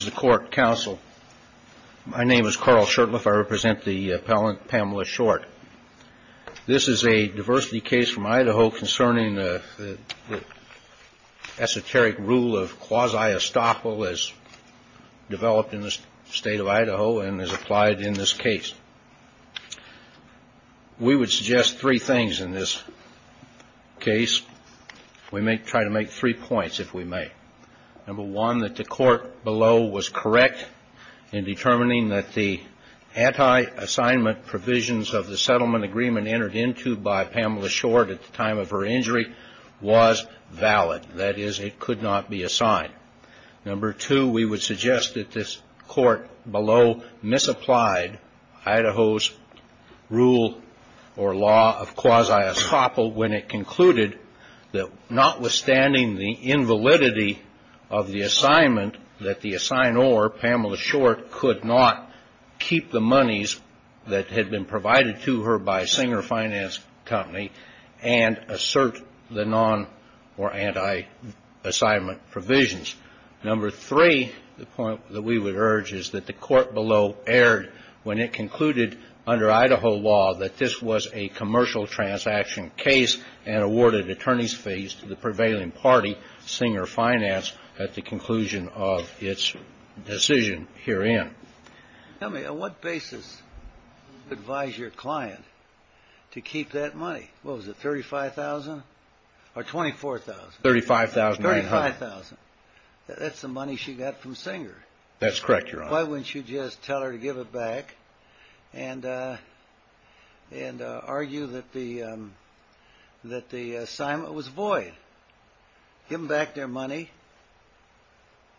This is a diversity case from Idaho concerning the esoteric rule of quasi-estoppel as developed in the state of Idaho and as applied in this case. We would suggest three things in this case. We may try to make three points if we may. Number one, that the court below was correct in determining that the anti-assignment provisions of the settlement agreement entered into by Pamela Short at the time of her injury was valid. That is, it could not be assigned. Number two, we would suggest that this court below misapplied Idaho's rule or law of quasi-estoppel when it concluded that notwithstanding the invalidity of the assignment, that the assignor, Pamela Short, could not keep the monies that had been provided to her by Singer Finance Company and assert the non- or anti-assignment provisions. Number three, the point that we would urge is that the court below erred when it concluded under Idaho law that this was a commercial transaction case and awarded attorney's fees to the prevailing party, Singer Finance, at the conclusion of its decision herein. Tell me, on what basis advise your client to keep that money? What was it, $35,000 or $24,000? $35,900. $35,000. That's the money she got from Singer. That's correct, Your Honor. Why wouldn't you just tell her to give it back and argue that the assignment was void? Give them back their money.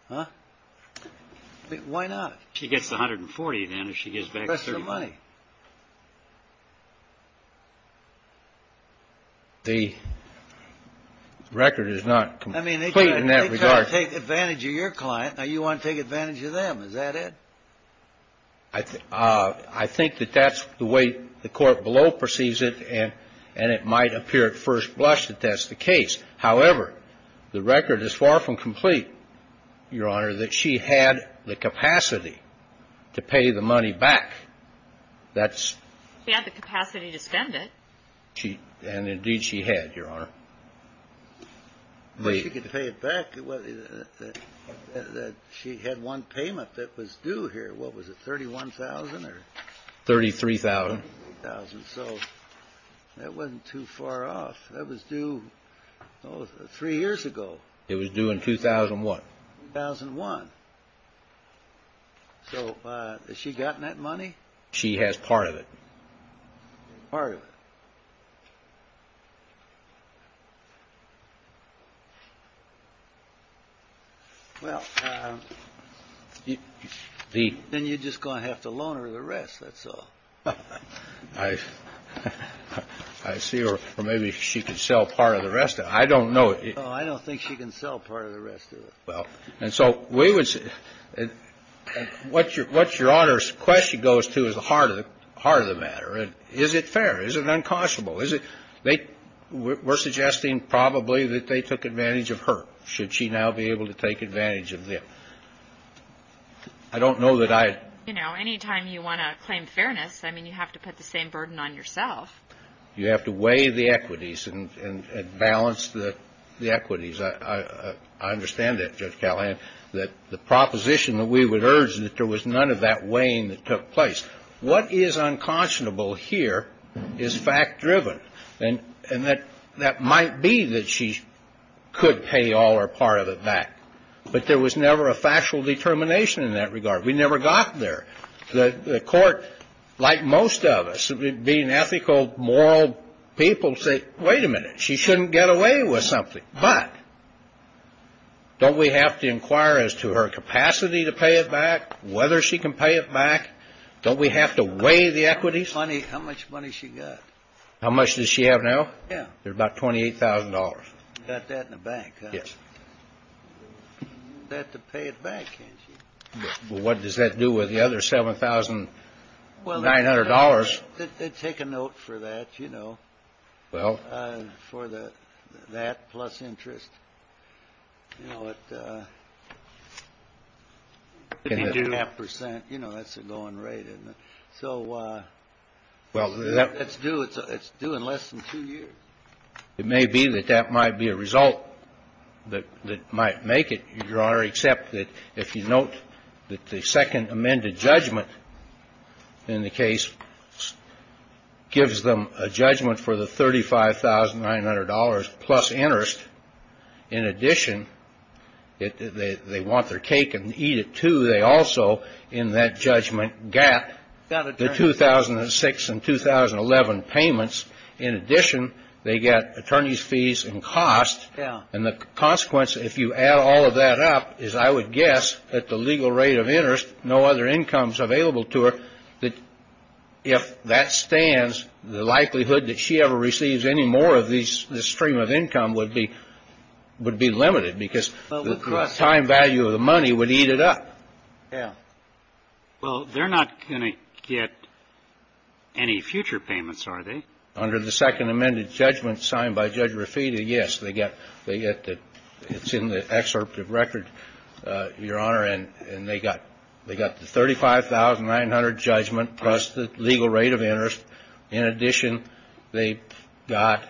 Huh? Why not? She gets $140,000, then, if she gives back $35,000. That's her money. The record is not complete in that regard. I mean, they tried to take advantage of your client. Now you want to take advantage of them. Is that it? I think that that's the way the court below perceives it, and it might appear at first blush that that's the case. However, the record is far from complete, Your Honor, that she had the capacity to pay the money back. She had the capacity to spend it. And, indeed, she had, Your Honor. If she could pay it back, she had one payment that was due here. What was it, $31,000 or? $33,000. $33,000. So that wasn't too far off. That was due three years ago. It was due in 2001. 2001. So has she gotten that money? She has part of it. Part of it. Well, then you're just going to have to loan her the rest. That's all. I see. Or maybe she could sell part of the rest of it. I don't know. I don't think she can sell part of the rest of it. Well, and so we would say what your Honor's question goes to is the heart of the matter. Is it fair? Is it unconscionable? We're suggesting probably that they took advantage of her. Should she now be able to take advantage of them? I don't know that I. You know, any time you want to claim fairness, I mean, you have to put the same burden on yourself. You have to weigh the equities and balance the equities. I understand that, Judge Callahan, that the proposition that we would urge is that there was none of that weighing that took place. What is unconscionable here is fact-driven. And that might be that she could pay all or part of it back. But there was never a factual determination in that regard. We never got there. The Court, like most of us, being ethical, moral people, said, wait a minute, she shouldn't get away with something. But don't we have to inquire as to her capacity to pay it back, whether she can pay it back? Don't we have to weigh the equities? How much money she got? How much does she have now? Yeah. There's about $28,000. She's got that in the bank, huh? Yes. She's got that to pay it back, can't she? Well, what does that do with the other $7,900? Take a note for that, you know, for the that plus interest. You know, at half percent, you know, that's a going rate, isn't it? So it's due in less than two years. It may be that that might be a result that might make it, Your Honor, except that if you note that the second amended judgment in the case gives them a judgment for the $35,900 plus interest, in addition, they want their cake and eat it too. They also, in that judgment, get the 2006 and 2011 payments. In addition, they get attorney's fees and costs. And the consequence, if you add all of that up, is I would guess that the legal rate of interest, no other incomes available to her, that if that stands, the likelihood that she ever receives any more of this stream of income would be limited because the time value of the money would eat it up. Yeah. Well, they're not going to get any future payments, are they? Under the second amended judgment signed by Judge Rafita, yes, they get the excerpt of record, Your Honor, and they got the $35,900 judgment plus the legal rate of interest. In addition, they got,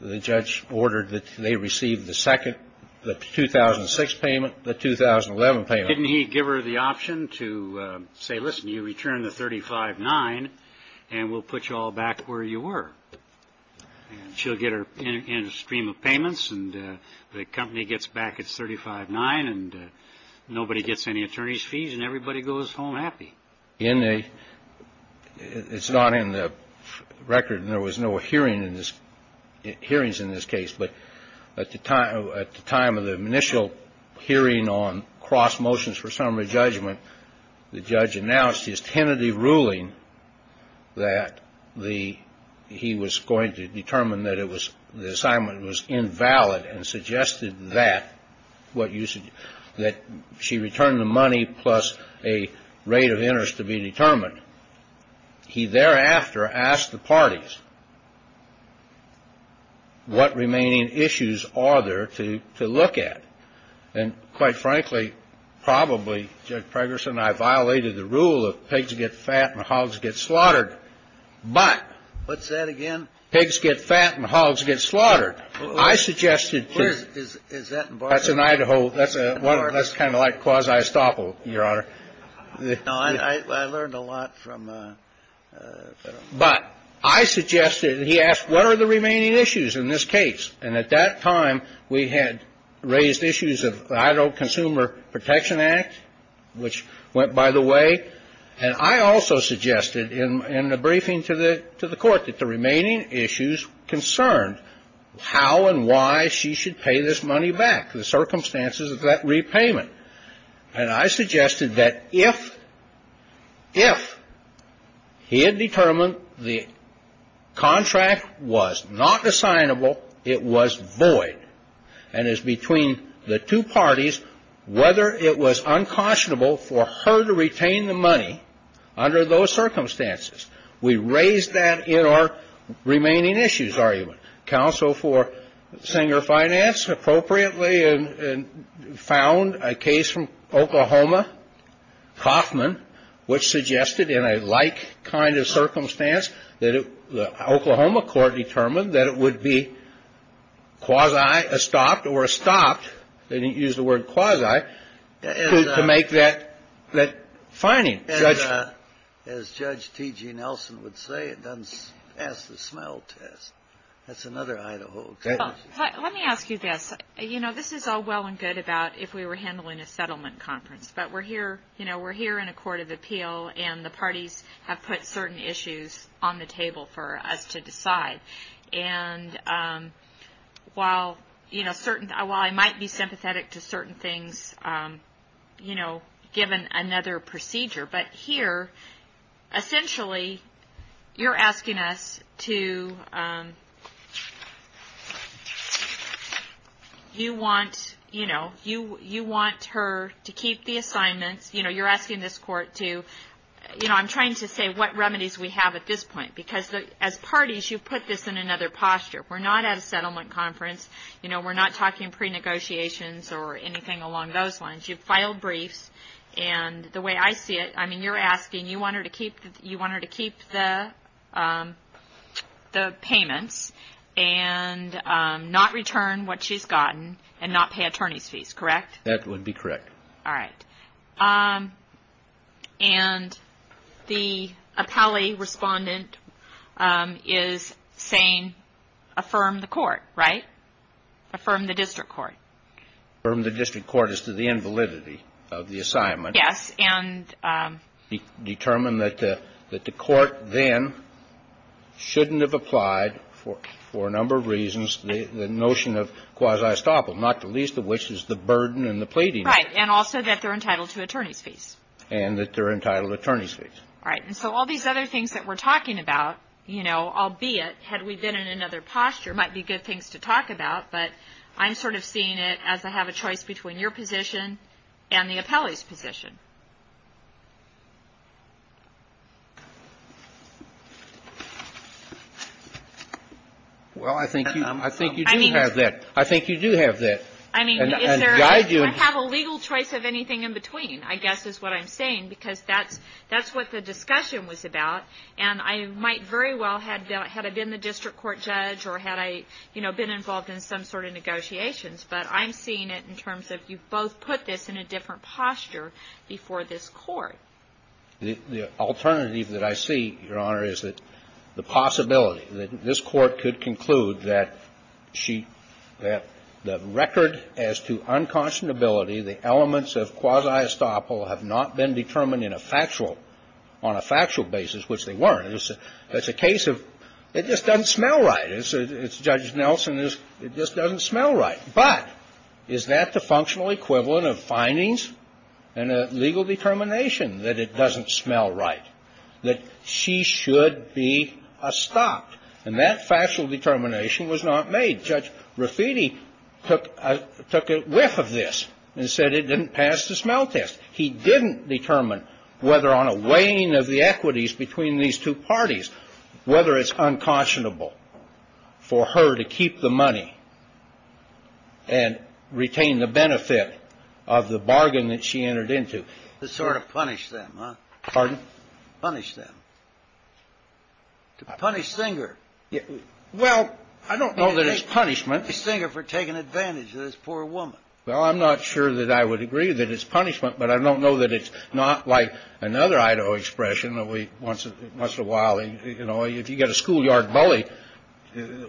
the judge ordered that they receive the second, the 2006 payment, the 2011 payment. Didn't he give her the option to say, listen, you return the $35,900 and we'll put you all back where you were? And she'll get her end stream of payments and the company gets back its $35,900 and nobody gets any attorney's fees and everybody goes home happy. In the, it's not in the record and there was no hearing in this, hearings in this case. But at the time, at the time of the initial hearing on cross motions for summary judgment, the judge announced his tentative ruling that the, he was going to determine that it was, the assignment was invalid and suggested that, that she return the money plus a rate of interest to be determined. He thereafter asked the parties, what remaining issues are there to look at? And quite frankly, probably, Judge Pregerson, I violated the rule of pigs get fat and hogs get slaughtered. But. What's that again? Pigs get fat and hogs get slaughtered. I suggested. Where is that? That's in Idaho. That's a, that's kind of like quasi estoppel, Your Honor. I learned a lot from. But I suggested, he asked, what are the remaining issues in this case? And at that time, we had raised issues of the Idaho Consumer Protection Act, which went by the way. And I also suggested in a briefing to the, to the court that the remaining issues concerned how and why she should pay this money back, the circumstances of that repayment. And I suggested that if, if he had determined the contract was not assignable, it was void. And as between the two parties, whether it was uncautionable for her to retain the money under those circumstances, we raised that in our remaining issues argument. And as Judge T.G. Nelson would say, it doesn't pass the smell test. That's another Idaho. Let me ask you this. You know, this is all well and good about if we were handling a settlement conference. But we're here, you know, we're here in a court of appeal, and the parties have put certain issues on the table for us to decide. And while, you know, certain, while I might be sympathetic to certain things, you know, given another procedure. But here, essentially, you're asking us to, you want, you know, you, you want her to keep the assignments. You know, you're asking this court to, you know, I'm trying to say what remedies we have at this point. Because as parties, you put this in another posture. We're not at a settlement conference. You know, we're not talking pre-negotiations or anything along those lines. You've filed briefs. And the way I see it, I mean, you're asking, you want her to keep, you want her to keep the payments and not return what she's gotten and not pay attorney's fees, correct? That would be correct. All right. And the appellee respondent is saying, affirm the court, right? Affirm the district court. Affirm the district court as to the invalidity of the assignment. Yes. And determine that the court then shouldn't have applied for a number of reasons the notion of quasi-estoppel, not the least of which is the burden and the pleading. Right. And also that they're entitled to attorney's fees. And that they're entitled to attorney's fees. All right. And so all these other things that we're talking about, you know, albeit had we been in another posture, might be good things to talk about. But I'm sort of seeing it as I have a choice between your position and the appellee's position. Well, I think you do have that. I think you do have that. I mean, is there a legal choice of anything in between, I guess is what I'm saying, because that's what the discussion was about. And I might very well had I been the district court judge or had I, you know, been involved in some sort of negotiations. But I'm seeing it in terms of you both put this in a different posture before this Court. The alternative that I see, Your Honor, is that the possibility that this Court could conclude that she, that the record as to unconscionability, the elements of quasi-estoppel have not been determined in a factual, on a factual basis, which they weren't. That's a case of it just doesn't smell right. It's Judge Nelson, it just doesn't smell right. But is that the functional equivalent of findings and a legal determination that it doesn't smell right, that she should be estopped? And that factual determination was not made. Judge Rafiti took a whiff of this and said it didn't pass the smell test. He didn't determine whether on a weighing of the equities between these two parties, whether it's unconscionable for her to keep the money and retain the benefit of the bargain that she entered into. To sort of punish them, huh? Pardon? Punish them. To punish Singer. Well, I don't know that it's punishment. To punish Singer for taking advantage of this poor woman. Well, I'm not sure that I would agree that it's punishment, but I don't know that it's not like another Idaho expression that once in a while, you know, if you get a schoolyard bully,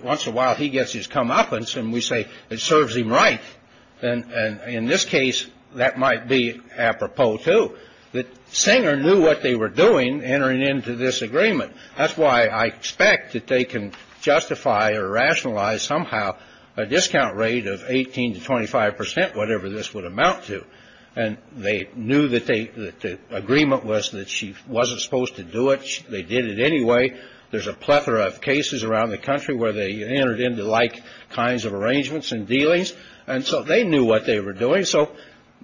once in a while he gets his comeuppance and we say it serves him right. And in this case, that might be apropos, too. That Singer knew what they were doing entering into this agreement. That's why I expect that they can justify or rationalize somehow a discount rate of 18 to 25 percent, whatever this would amount to. And they knew that the agreement was that she wasn't supposed to do it. They did it anyway. There's a plethora of cases around the country where they entered into like kinds of arrangements and dealings. And so they knew what they were doing. So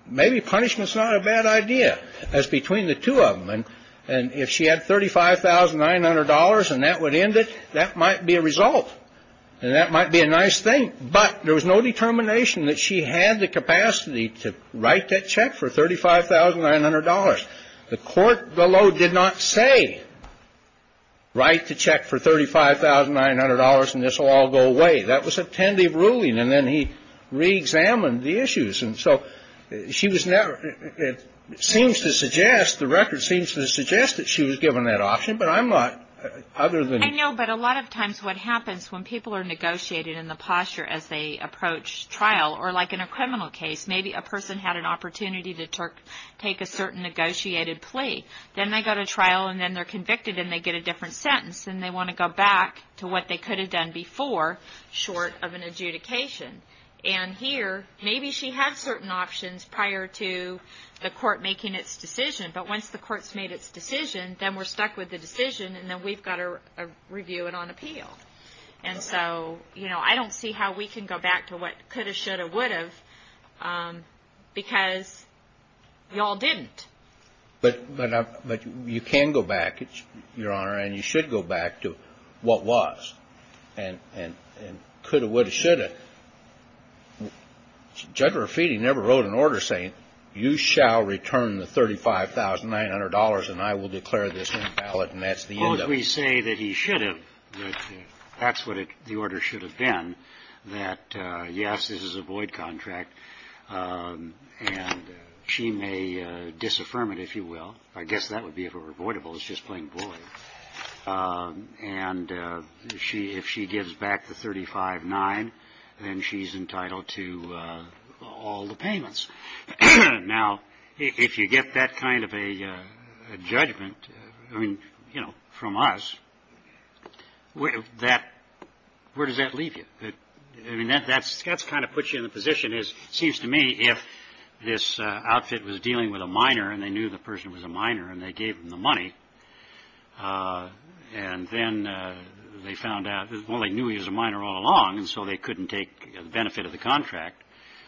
maybe punishment's not a bad idea as between the two of them. And if she had $35,900 and that would end it, that might be a result. And that might be a nice thing. But there was no determination that she had the capacity to write that check for $35,900. The court below did not say write the check for $35,900 and this will all go away. That was a tentative ruling. And then he reexamined the issues. And so she was never, it seems to suggest, the record seems to suggest that she was given that option. But I'm not, other than. I know, but a lot of times what happens when people are negotiated in the posture as they approach trial or like in a criminal case, maybe a person had an opportunity to take a certain negotiated plea. Then they go to trial and then they're convicted and they get a different sentence. And they want to go back to what they could have done before, short of an adjudication. And here, maybe she had certain options prior to the court making its decision. But once the court's made its decision, then we're stuck with the decision and then we've got to review it on appeal. And so, you know, I don't see how we can go back to what could have, should have, would have because we all didn't. But you can go back, Your Honor, and you should go back to what was. And could have, would have, should have. Judge Rafiti never wrote an order saying you shall return the $35,900 and I will declare this invalid. And that's the end of it. Well, we say that he should have. That's what the order should have been. That, yes, this is a void contract. And she may disaffirm it, if you will. I guess that would be avoidable. It's just plain void. And if she gives back the $35,900, then she's entitled to all the payments. Now, if you get that kind of a judgment, I mean, you know, from us, where does that leave you? I mean, that's kind of puts you in the position, it seems to me, if this outfit was dealing with a minor and they knew the person was a minor and they gave them the money, and then they found out, well, they knew he was a minor all along, and so they couldn't take the benefit of the contract,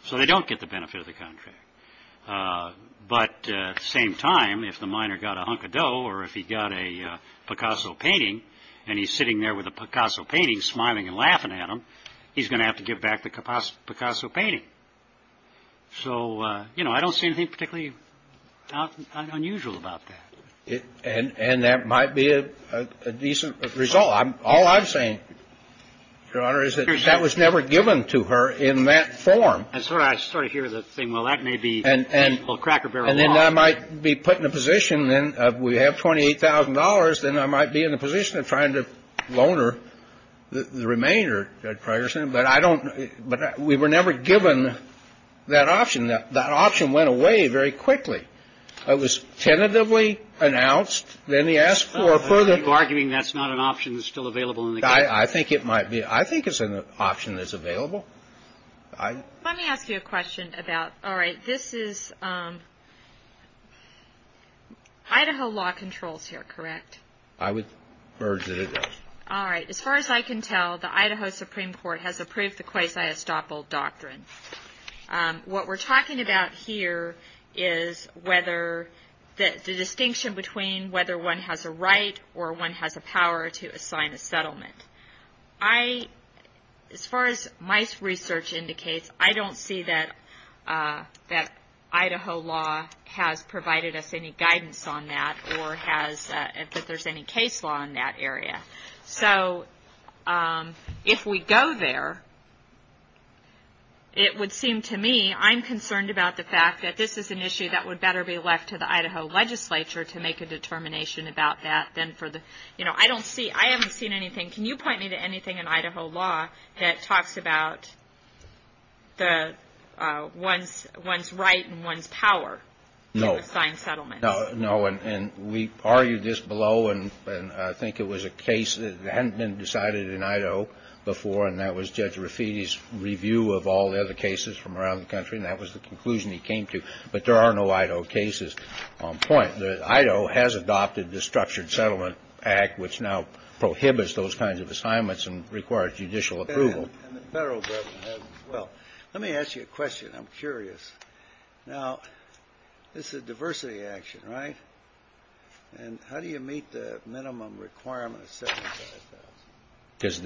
so they don't get the benefit of the contract. But at the same time, if the minor got a hunk of dough or if he got a Picasso painting and he's sitting there with a Picasso painting, smiling and laughing at him, he's going to have to give back the Picasso painting. So, you know, I don't see anything particularly unusual about that. And that might be a decent result. All I'm saying, Your Honor, is that that was never given to her in that form. I'm sorry. I sort of hear the thing, well, that may be a little cracker barrel. And then I might be put in a position, then, if we have $28,000, then I might be in a position of trying to loan her the remainder, Judge Progerson. But we were never given that option. That option went away very quickly. It was tentatively announced, then he asked for a further ---- Are you arguing that's not an option that's still available in the case? I think it might be. I think it's an option that's available. Let me ask you a question about, all right, this is Idaho law controls here, correct? I would urge that it is. All right. As far as I can tell, the Idaho Supreme Court has approved the quasi-estoppel doctrine. What we're talking about here is the distinction between whether one has a right or one has the power to assign a settlement. As far as my research indicates, I don't see that Idaho law has provided us any guidance on that or that there's any case law in that area. So if we go there, it would seem to me I'm concerned about the fact that this is an issue that would better be left to the Idaho legislature to make a determination about that than for the ---- I haven't seen anything. Can you point me to anything in Idaho law that talks about one's right and one's power to assign settlements? No. And we argued this below, and I think it was a case that hadn't been decided in Idaho before, and that was Judge Rafiti's review of all the other cases from around the country, and that was the conclusion he came to. But there are no Idaho cases on point. Idaho has adopted the Structured Settlement Act, which now prohibits those kinds of assignments and requires judicial approval. And the Federal Government has them as well. Let me ask you a question. I'm curious. Now, this is a diversity action, right? And how do you meet the minimum requirement of $75,000? Because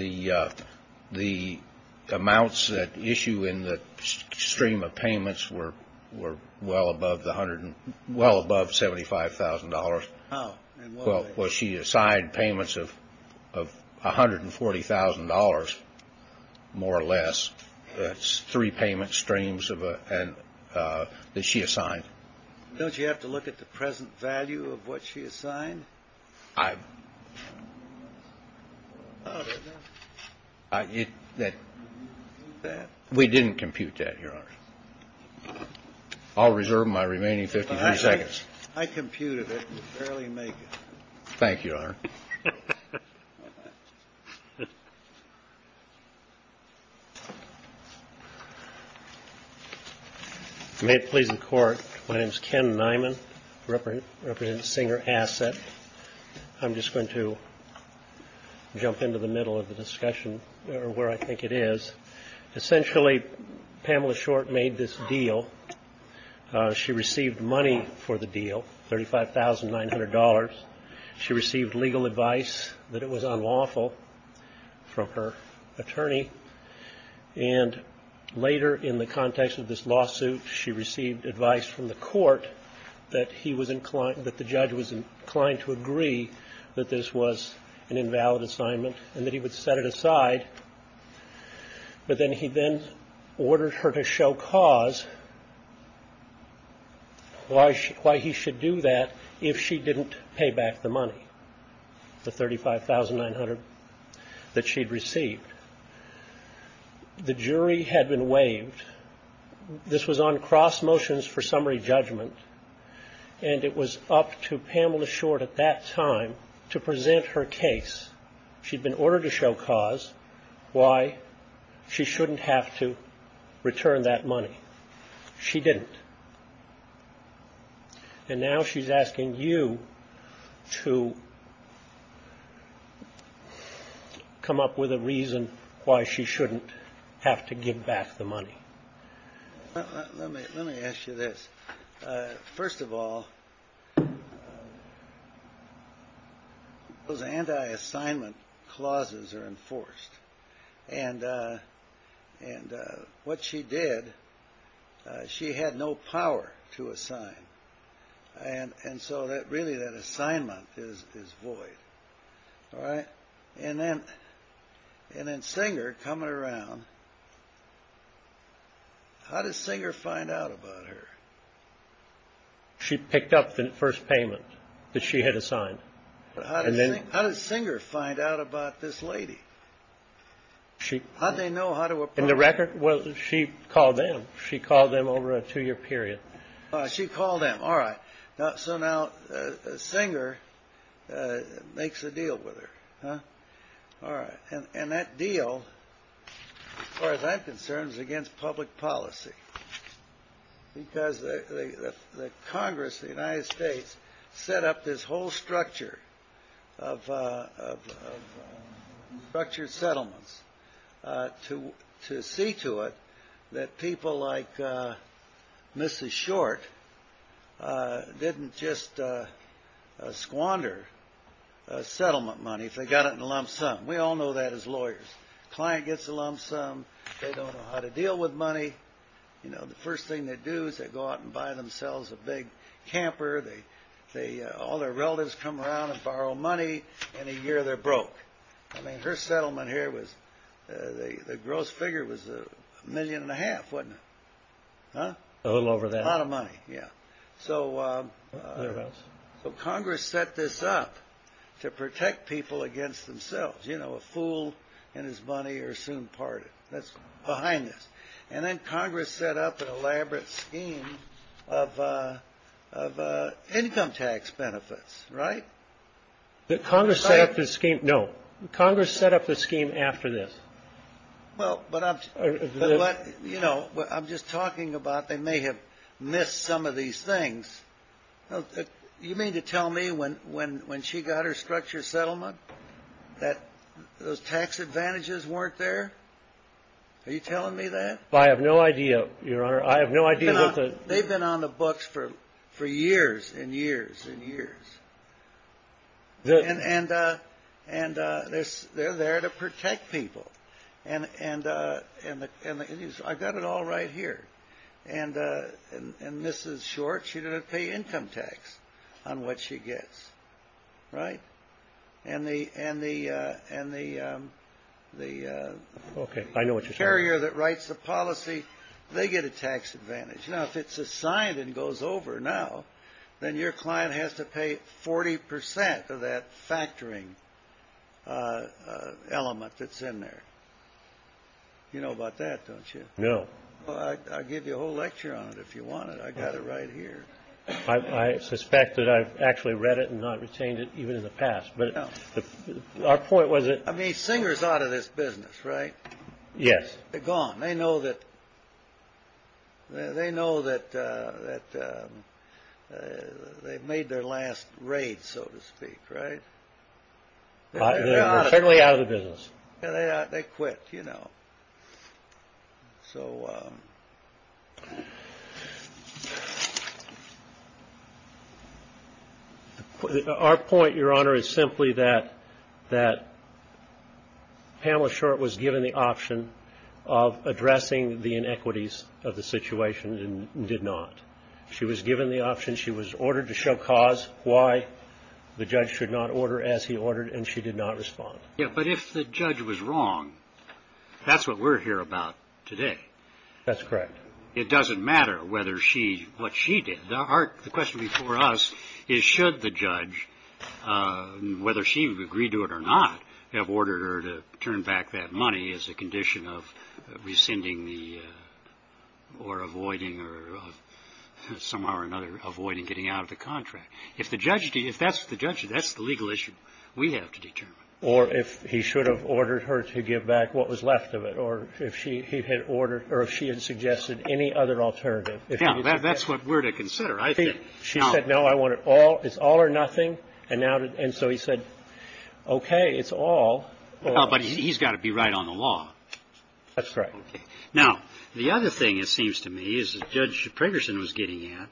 the amounts at issue in the stream of payments were well above $75,000. How? Well, she assigned payments of $140,000, more or less, three payment streams that she assigned. Don't you have to look at the present value of what she assigned? I ---- We didn't compute that, Your Honor. I'll reserve my remaining 53 seconds. I computed it and barely make it. Thank you, Your Honor. May it please the Court. My name is Ken Nyman. I represent Singer Asset. I'm just going to jump into the middle of the discussion, or where I think it is. Essentially, Pamela Short made this deal. She received money for the deal, $35,900. She received legal advice that it was unlawful from her attorney. And later, in the context of this lawsuit, she received advice from the court that he was inclined, that the judge was inclined to agree that this was an invalid assignment and that he would set it aside. But then he then ordered her to show cause why he should do that if she didn't pay back the money, the $35,900 that she'd received. The jury had been waived. This was on cross motions for summary judgment, and it was up to Pamela Short at that time to present her case. She'd been ordered to show cause why she shouldn't have to return that money. She didn't. And now she's asking you to come up with a reason why she shouldn't have to give back the money. Let me ask you this. First of all, those anti-assignment clauses are enforced. And what she did, she had no power to assign. And so really that assignment is void. All right. And then Singer coming around. How did Singer find out about her? She picked up the first payment that she had assigned. How did Singer find out about this lady? How did they know how to approach her? In the record, she called them. She called them over a two-year period. She called them. All right. So now Singer makes a deal with her. All right. And that deal, as far as I'm concerned, is against public policy. Because the Congress of the United States set up this whole structure of structured settlements to see to it that people like Mrs. Short didn't just squander settlement money if they got it in a lump sum. We all know that as lawyers. Client gets a lump sum. They don't know how to deal with money. The first thing they do is they go out and buy themselves a big camper. All their relatives come around and borrow money. In a year, they're broke. I mean, her settlement here, the gross figure was a million and a half, wasn't it? A little over that. A lot of money, yeah. So Congress set this up to protect people against themselves. You know, a fool and his money are soon parted. That's behind this. And then Congress set up an elaborate scheme of income tax benefits, right? The Congress set up the scheme. No. Congress set up the scheme after this. Well, but I'm just talking about they may have missed some of these things. You mean to tell me when she got her structure settlement that those tax advantages weren't there? Are you telling me that? I have no idea, Your Honor. I have no idea. They've been on the books for years and years and years. And they're there to protect people. And I've got it all right here. And Mrs. Short, she doesn't pay income tax on what she gets, right? And the carrier that writes the policy, they get a tax advantage. Now, if it's assigned and goes over now, then your client has to pay 40 percent of that factoring element that's in there. You know about that, don't you? No. Well, I'll give you a whole lecture on it if you want it. I've got it right here. I suspect that I've actually read it and not retained it even in the past. But our point was that. I mean, Singer's out of this business, right? Yes. They're gone. They know that they've made their last raid, so to speak, right? They're federally out of the business. They quit, you know. So our point, Your Honor, is simply that Pamela Short was given the option of addressing the inequities of the situation and did not. She was given the option. She was ordered to show cause why the judge should not order as he ordered, and she did not respond. Yeah, but if the judge was wrong, that's what we're here about today. That's correct. It doesn't matter whether she, what she did. The question before us is should the judge, whether she would agree to it or not, have ordered her to turn back that money as a condition of rescinding the or avoiding or somehow or another avoiding getting out of the contract. If the judge did, if that's what the judge did, that's the legal issue we have to determine. Or if he should have ordered her to give back what was left of it or if he had ordered or if she had suggested any other alternative. That's what we're to consider, I think. She said, no, I want it all. It's all or nothing. And so he said, okay, it's all. But he's got to be right on the law. That's right. Now, the other thing, it seems to me, is Judge Pragerson was getting at.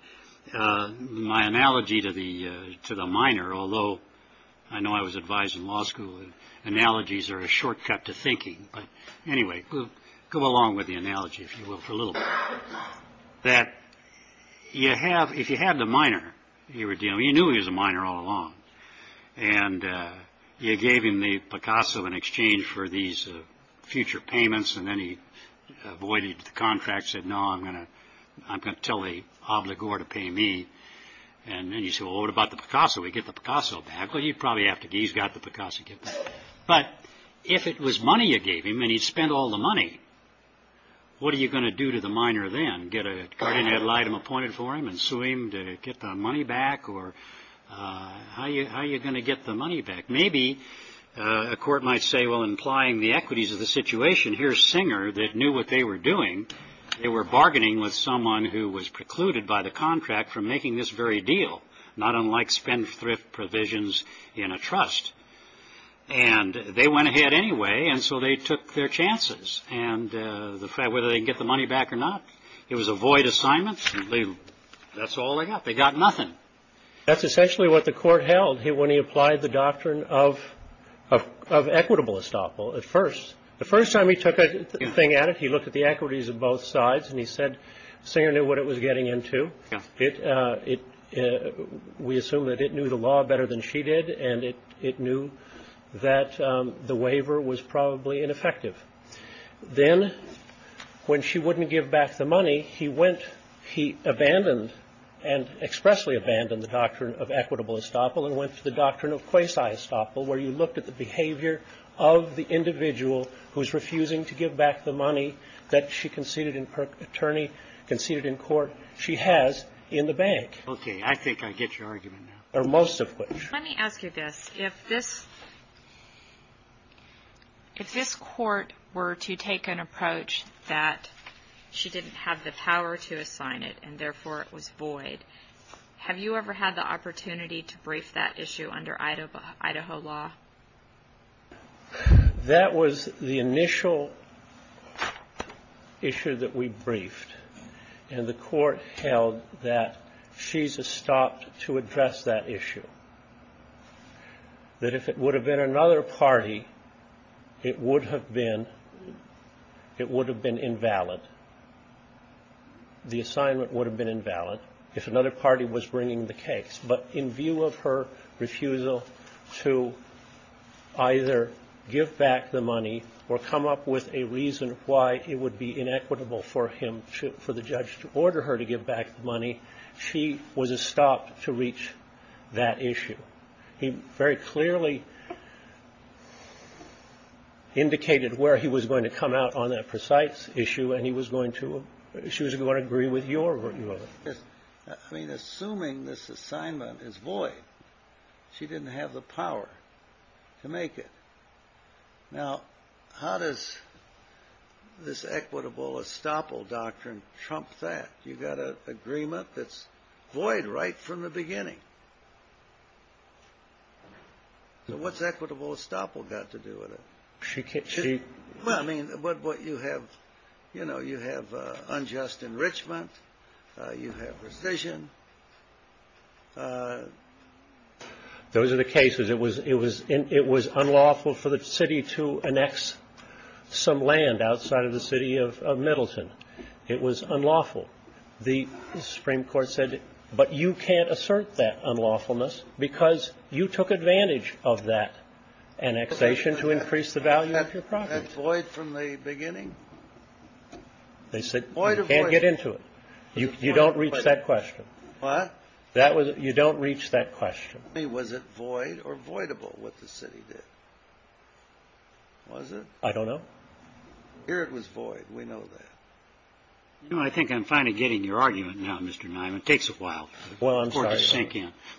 My analogy to the to the minor, although I know I was advised in law school, analogies are a shortcut to thinking. But anyway, we'll go along with the analogy, if you will, for a little bit that you have. If you had the minor, you know, you knew he was a minor all along. And you gave him the Picasso in exchange for these future payments. And then he avoided the contract, said, no, I'm going to tell the obligor to pay me. And then you say, well, what about the Picasso? We get the Picasso back. Well, you probably have to. He's got the Picasso. But if it was money you gave him and he spent all the money, what are you going to do to the minor then? Get a guardian ad litem appointed for him and sue him to get the money back? Or how are you going to get the money back? Maybe a court might say, well, implying the equities of the situation, here's Singer that knew what they were doing. They were bargaining with someone who was precluded by the contract from making this very deal. Not unlike spendthrift provisions in a trust. And they went ahead anyway. And so they took their chances. And whether they get the money back or not, it was a void assignment. That's all they got. They got nothing. That's essentially what the court held when he applied the doctrine of equitable estoppel at first. The first time he took a thing at it, he looked at the equities of both sides and he said Singer knew what it was getting into. We assume that it knew the law better than she did. And it knew that the waiver was probably ineffective. Then when she wouldn't give back the money, he went, he abandoned and expressly abandoned the doctrine of equitable estoppel and went to the doctrine of quasi-estoppel where you looked at the behavior of the individual who's refusing to give back the money that she conceded in court she has in the bank. Okay. I think I get your argument now. Or most of which. Let me ask you this. If this court were to take an approach that she didn't have the power to assign it and therefore it was void, have you ever had the opportunity to brief that issue under Idaho law? That was the initial issue that we briefed. And the court held that she stopped to address that issue. That if it would have been another party, it would have been it would have been invalid. The assignment would have been invalid if another party was bringing the case. But in view of her refusal to either give back the money or come up with a reason why it would be inequitable for him to for the judge to order her to give back the money, she was a stop to reach that issue. He very clearly indicated where he was going to come out on that precise issue and he was going to she was going to agree with your argument. I mean, assuming this assignment is void. She didn't have the power to make it. Now, how does this equitable estoppel doctrine trump that? You've got an agreement that's void right from the beginning. So what's equitable estoppel got to do with it? She can't cheat. I mean, what you have, you know, you have unjust enrichment. You have revision. Those are the cases. It was it was it was unlawful for the city to annex some land outside of the city of Middleton. It was unlawful. The Supreme Court said, but you can't assert that unlawfulness because you took advantage of that annexation to increase the value of your property. That's void from the beginning. They said you can't get into it. You don't reach that question. What? You don't reach that question. Was it void or voidable what the city did? Was it? I don't know. Here it was void. We know that. You know, I think I'm finally getting your argument now, Mr. Neiman. It takes a while. Well, I'm sorry.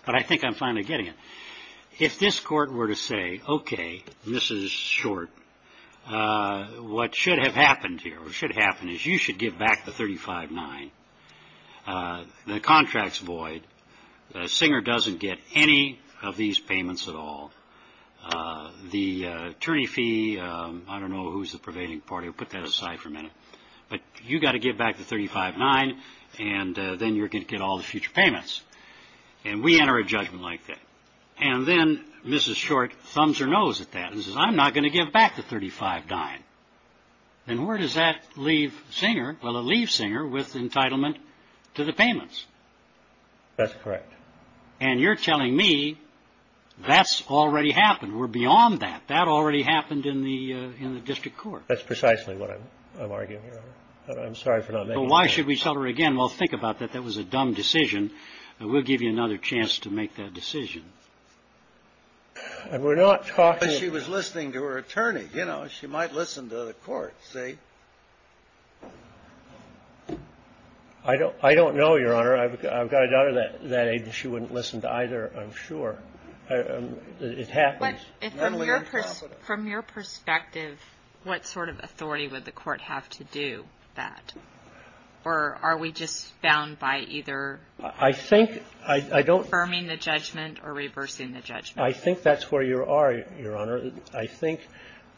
But I think I'm finally getting it. If this court were to say, OK, this is short, what should have happened here, what should happen is you should give back the thirty five nine. The contract's void. Singer doesn't get any of these payments at all. The attorney fee. I don't know who's the prevailing party. Put that aside for a minute. But you've got to give back the thirty five nine and then you're going to get all the future payments. And we enter a judgment like that. And then Mrs. Short thumbs her nose at that and says, I'm not going to give back the thirty five nine. And where does that leave Singer? Well, it leaves Singer with entitlement to the payments. That's correct. And you're telling me that's already happened. We're beyond that. That already happened in the in the district court. That's precisely what I'm arguing. I'm sorry for not. Why should we tell her again? Well, think about that. That was a dumb decision. We'll give you another chance to make that decision. And we're not talking. She was listening to her attorney. You know, she might listen to the court. See, I don't I don't know, Your Honor. I've got a daughter that that she wouldn't listen to either. I'm sure it happens. From your perspective, what sort of authority would the court have to do that? Or are we just bound by either? I think I don't. Affirming the judgment or reversing the judgment. I think that's where you are, Your Honor. I think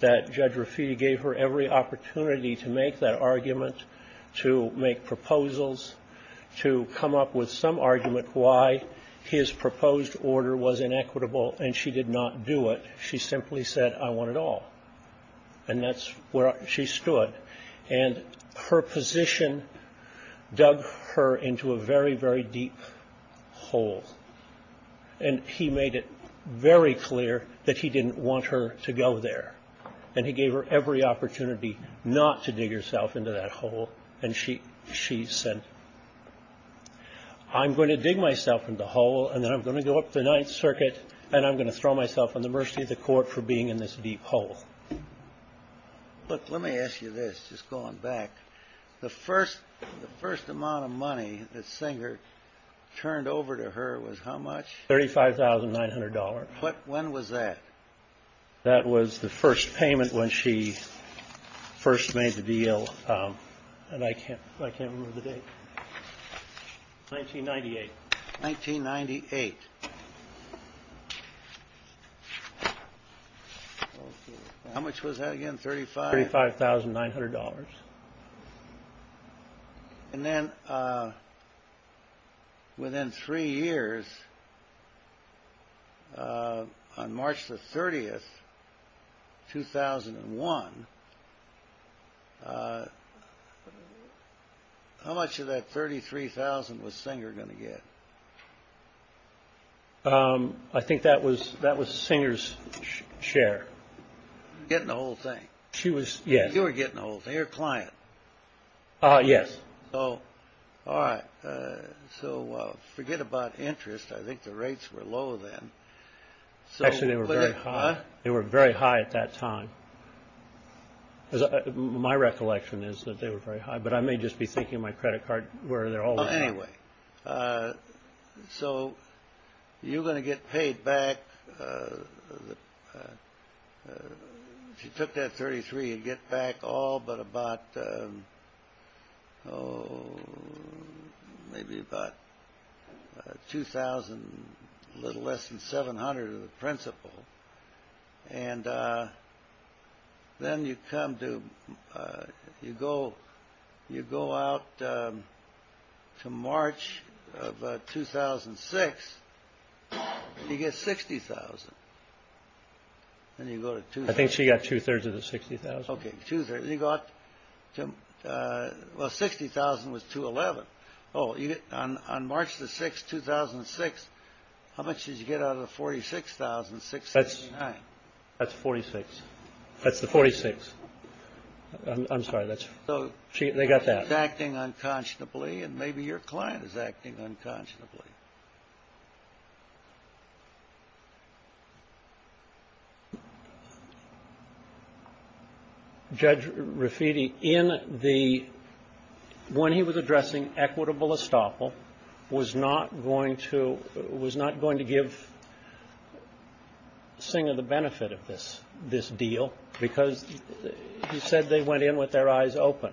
that Judge Rafiti gave her every opportunity to make that argument, to make proposals, to come up with some argument why his proposed order was inequitable, and she did not do it. She simply said, I want it all. And that's where she stood. And her position dug her into a very, very deep hole. And he made it very clear that he didn't want her to go there. And he gave her every opportunity not to dig herself into that hole. And she she said, I'm going to dig myself into the hole and then I'm going to go up the Ninth Circuit. And I'm going to throw myself on the mercy of the court for being in this deep hole. Look, let me ask you this. Just going back. The first the first amount of money that Singer turned over to her was how much? Thirty five thousand nine hundred dollars. When was that? That was the first payment when she first made the deal. And I can't I can't remember the date. Nineteen ninety eight. Nineteen ninety eight. How much was that again? Thirty five. Thirty five thousand nine hundred dollars. And then. Within three years. On March the 30th, 2001. How much of that thirty three thousand was Singer going to get? I think that was that was Singer's share. Getting the whole thing. She was. Yes. You were getting all of your client. Yes. Oh, all right. So forget about interest. I think the rates were low then. Actually, they were very high. They were very high at that time. My recollection is that they were very high. But I may just be thinking my credit card where they're all anyway. So you're going to get paid back. If you took that thirty three and get back all but about. Maybe about two thousand. A little less than seven hundred of the principal. And then you come to you go. You go out to March of 2006. You get 60,000. And you go to two. I think she got two thirds of the 60,000. OK. You got to 60,000 was to 11. Oh, on March the 6th, 2006. How much did you get out of the forty six thousand six. That's forty six. That's the forty six. I'm sorry. That's. So they got that acting unconscionably and maybe your client is acting unconscionably. Judge Rafiti in the when he was addressing equitable estoppel was not going to was not going to give. Sing of the benefit of this, this deal, because he said they went in with their eyes open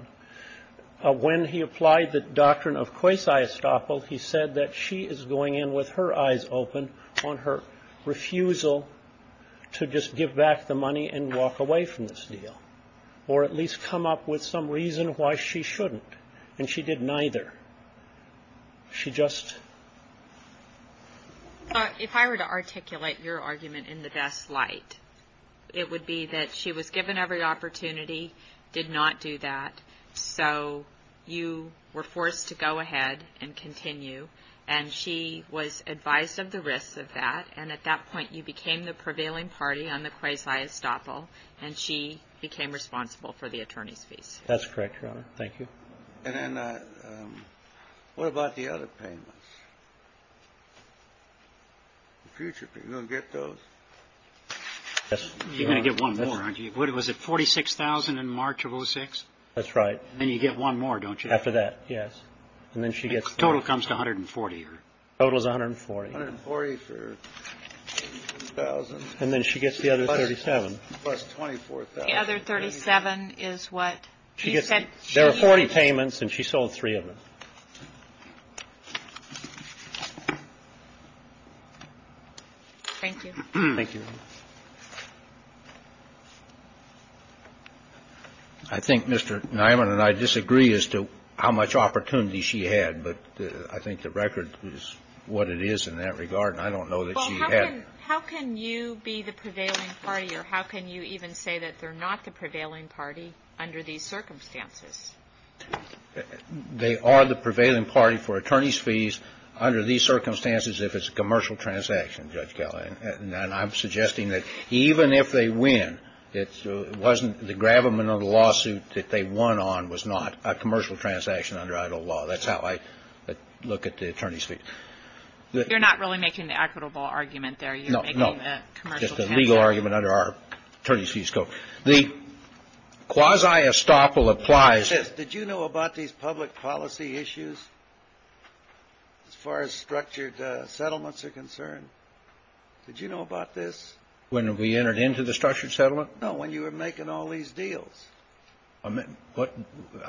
when he applied the doctrine of course, I estoppel he said that she is going in with her eyes open on her refusal to just give back the money and walk away from this deal or at least come up with some reason why she shouldn't. And she did neither. She just. If I were to articulate your argument in the best light, it would be that she was given every opportunity, did not do that. So you were forced to go ahead and continue. And she was advised of the risks of that. And at that point, you became the prevailing party on the quasi estoppel. And she became responsible for the attorney's fees. That's correct. Thank you. And then what about the other payments? Future get those. You're going to get one. What was it? Forty six thousand in March of 06. That's right. Then you get one more, don't you? After that. Yes. And then she gets total comes to 140. Total is 140. And then she gets the other 37 plus 24. The other 37 is what she said. There are 40 payments and she sold three of them. Thank you. Thank you. I think Mr. Niman and I disagree as to how much opportunity she had. But I think the record is what it is in that regard. And I don't know that she had. How can you be the prevailing party or how can you even say that they're not the prevailing party under these circumstances? They are the prevailing party for attorney's fees under these circumstances. If it's a commercial transaction, Judge Kelly, and I'm suggesting that even if they win, it wasn't the gravamen of the lawsuit that they won on was not a commercial transaction under idle law. That's how I look at the attorney's fee. You're not really making an equitable argument there. No, no. Just a legal argument under our attorney's fees. Go. The quasi estoppel applies. Did you know about these public policy issues? As far as structured settlements are concerned. Did you know about this? When we entered into the structured settlement? No. When you were making all these deals. I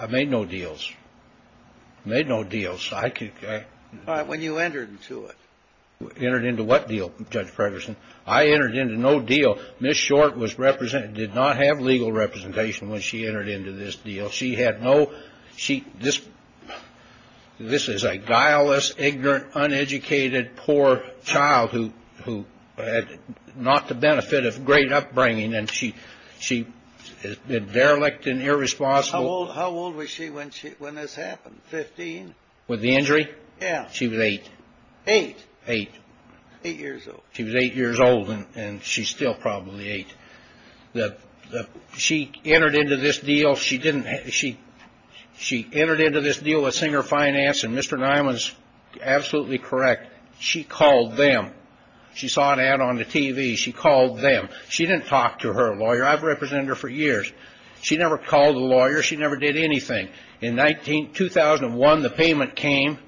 made no deals. I made no deals. When you entered into it. Entered into what deal, Judge Fredersen? I entered into no deal. Ms. Short did not have legal representation when she entered into this deal. She had no. This is a guileless, ignorant, uneducated, poor child who had not the benefit of great upbringing. And she was derelict and irresponsible. How old was she when this happened? Fifteen? With the injury? Yeah. She was eight. Eight? Eight. Eight years old. She was eight years old and she's still probably eight. She entered into this deal with Singer Finance and Mr. Nye was absolutely correct. She called them. She saw an ad on the TV. She called them. She didn't talk to her lawyer. I've represented her for years. She never called a lawyer. She never did anything. In 2001, the payment came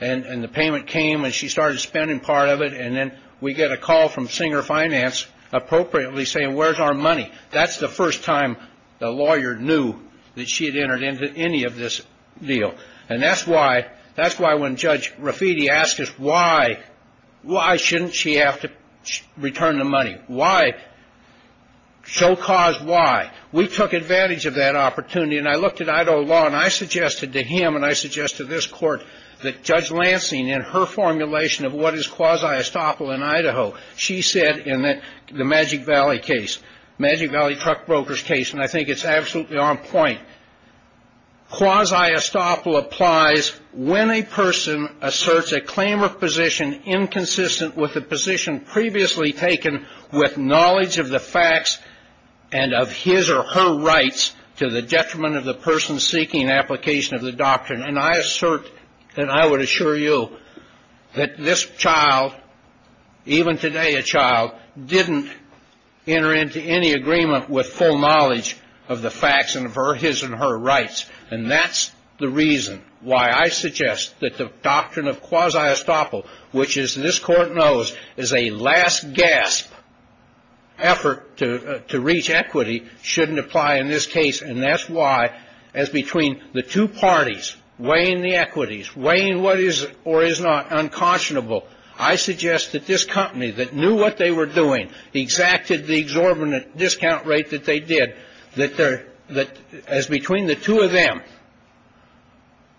and the payment came and she started spending part of it. And then we get a call from Singer Finance appropriately saying, where's our money? That's the first time the lawyer knew that she had entered into any of this deal. And that's why when Judge Rafiti asked us why, why shouldn't she have to return the money? Why? Show cause why. We took advantage of that opportunity. And I looked at Idaho law and I suggested to him and I suggest to this court that Judge Lansing, in her formulation of what is quasi-estoppel in Idaho, she said in the Magic Valley case, Magic Valley truck brokers case, and I think it's absolutely on point, quasi-estoppel applies when a person asserts a claim of position inconsistent with the position previously taken with knowledge of the facts and of his or her rights to the detriment of the person seeking application of the doctrine. And I assert and I would assure you that this child, even today a child, didn't enter into any agreement with full knowledge of the facts and of her, his and her rights. And that's the reason why I suggest that the doctrine of quasi-estoppel, which is, this court knows, is a last gasp effort to reach equity, shouldn't apply in this case. And that's why, as between the two parties, weighing the equities, weighing what is or is not unconscionable, I suggest that this company that knew what they were doing, exacted the exorbitant discount rate that they did, that as between the two of them,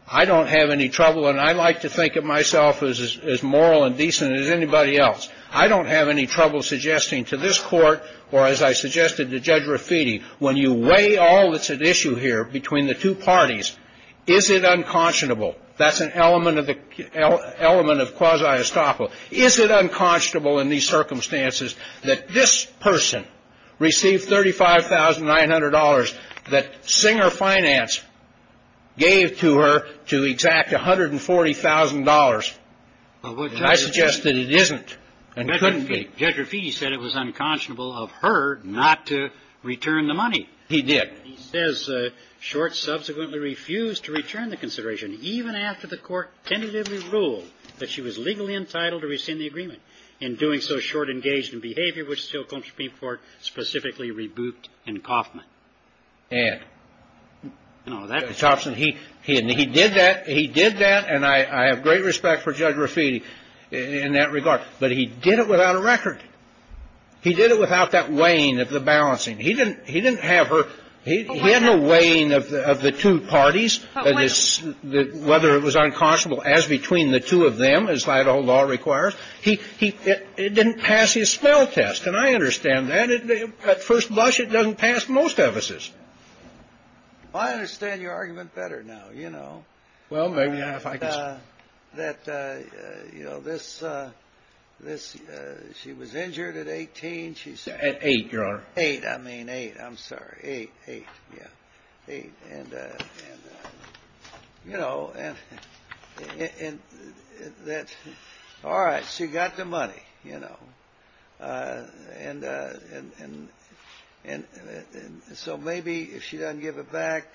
I don't have any trouble, and I like to think of myself as moral and decent as anybody else, I don't have any trouble suggesting to this court, or as I suggested to Judge Rafiti, when you weigh all that's at issue here between the two parties, is it unconscionable, that's an element of quasi-estoppel, is it unconscionable in these circumstances that this person received $35,900 that Singer Finance gave to her to exact $140,000? And I suggest that it isn't and couldn't be. Judge Rafiti said it was unconscionable of her not to return the money. He did. He says Short subsequently refused to return the consideration, even after the court tentatively ruled that she was legally entitled to rescind the agreement. In doing so, Short engaged in behavior which still comes before specifically rebuked in Coffman. And? No, that's not true. He did that. He did that. And I have great respect for Judge Rafiti in that regard. But he did it without a record. He did it without that weighing of the balancing. He didn't have her. He had no weighing of the two parties, whether it was unconscionable as between the two of them, as Idaho law requires. It didn't pass his spell test. And I understand that. At first blush, it doesn't pass most of us's. I understand your argument better now, you know. Well, maybe if I could say. That, you know, she was injured at 18. At 8, Your Honor. 8. I mean 8. I'm sorry. 8. 8. Yeah. 8. And, you know, and that's all right. She got the money, you know. And so maybe if she doesn't give it back,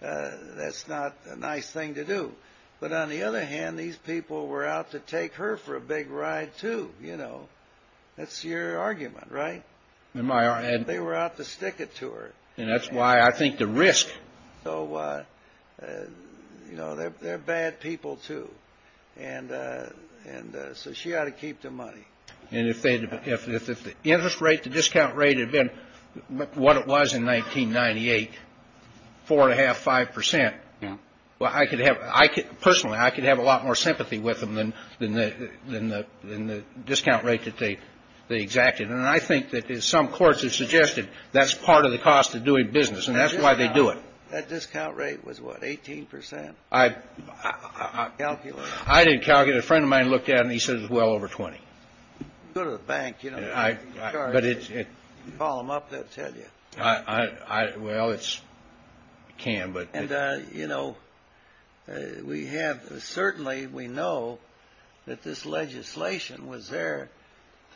that's not a nice thing to do. But on the other hand, these people were out to take her for a big ride, too, you know. That's your argument, right? In my argument. They were out to stick it to her. And that's why I think the risk. So, you know, they're bad people, too. And so she ought to keep the money. And if the interest rate, the discount rate had been what it was in 1998, 4.5%, 5%, well, I could have, personally, I could have a lot more sympathy with them than the discount rate that they exacted. And I think that some courts have suggested that's part of the cost of doing business. And that's why they do it. That discount rate was what, 18%? I didn't calculate it. A friend of mine looked at it, and he said it was well over 20. Go to the bank, you know. Call them up. They'll tell you. Well, you can, but. And, you know, we have, certainly, we know that this legislation was there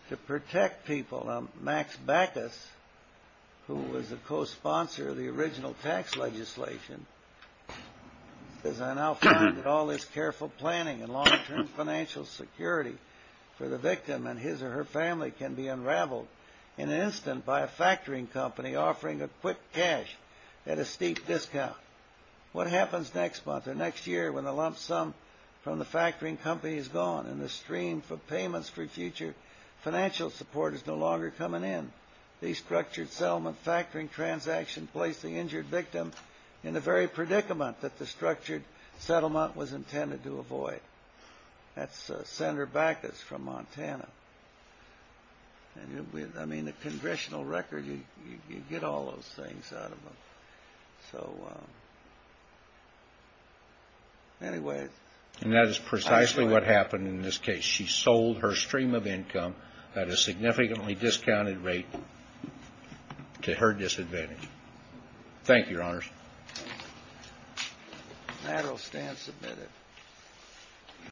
to protect people. Now, Max Backus, who was a co-sponsor of the original tax legislation, says, I now find that all this careful planning and long-term financial security for the victim and his or her family can be unraveled in an instant by a factoring company offering a quick cash at a steep discount. What happens next month or next year when the lump sum from the factoring company is gone and the stream for payments for future financial support is no longer coming in? These structured settlement factoring transactions place the injured victim in the very predicament that the structured settlement was intended to avoid. That's Senator Backus from Montana. I mean, the Congressional record, you get all those things out of them. So, anyway. And that is precisely what happened in this case. She sold her stream of income at a significantly discounted rate to her disadvantage. Thank you, Your Honors. The matter will stand submitted.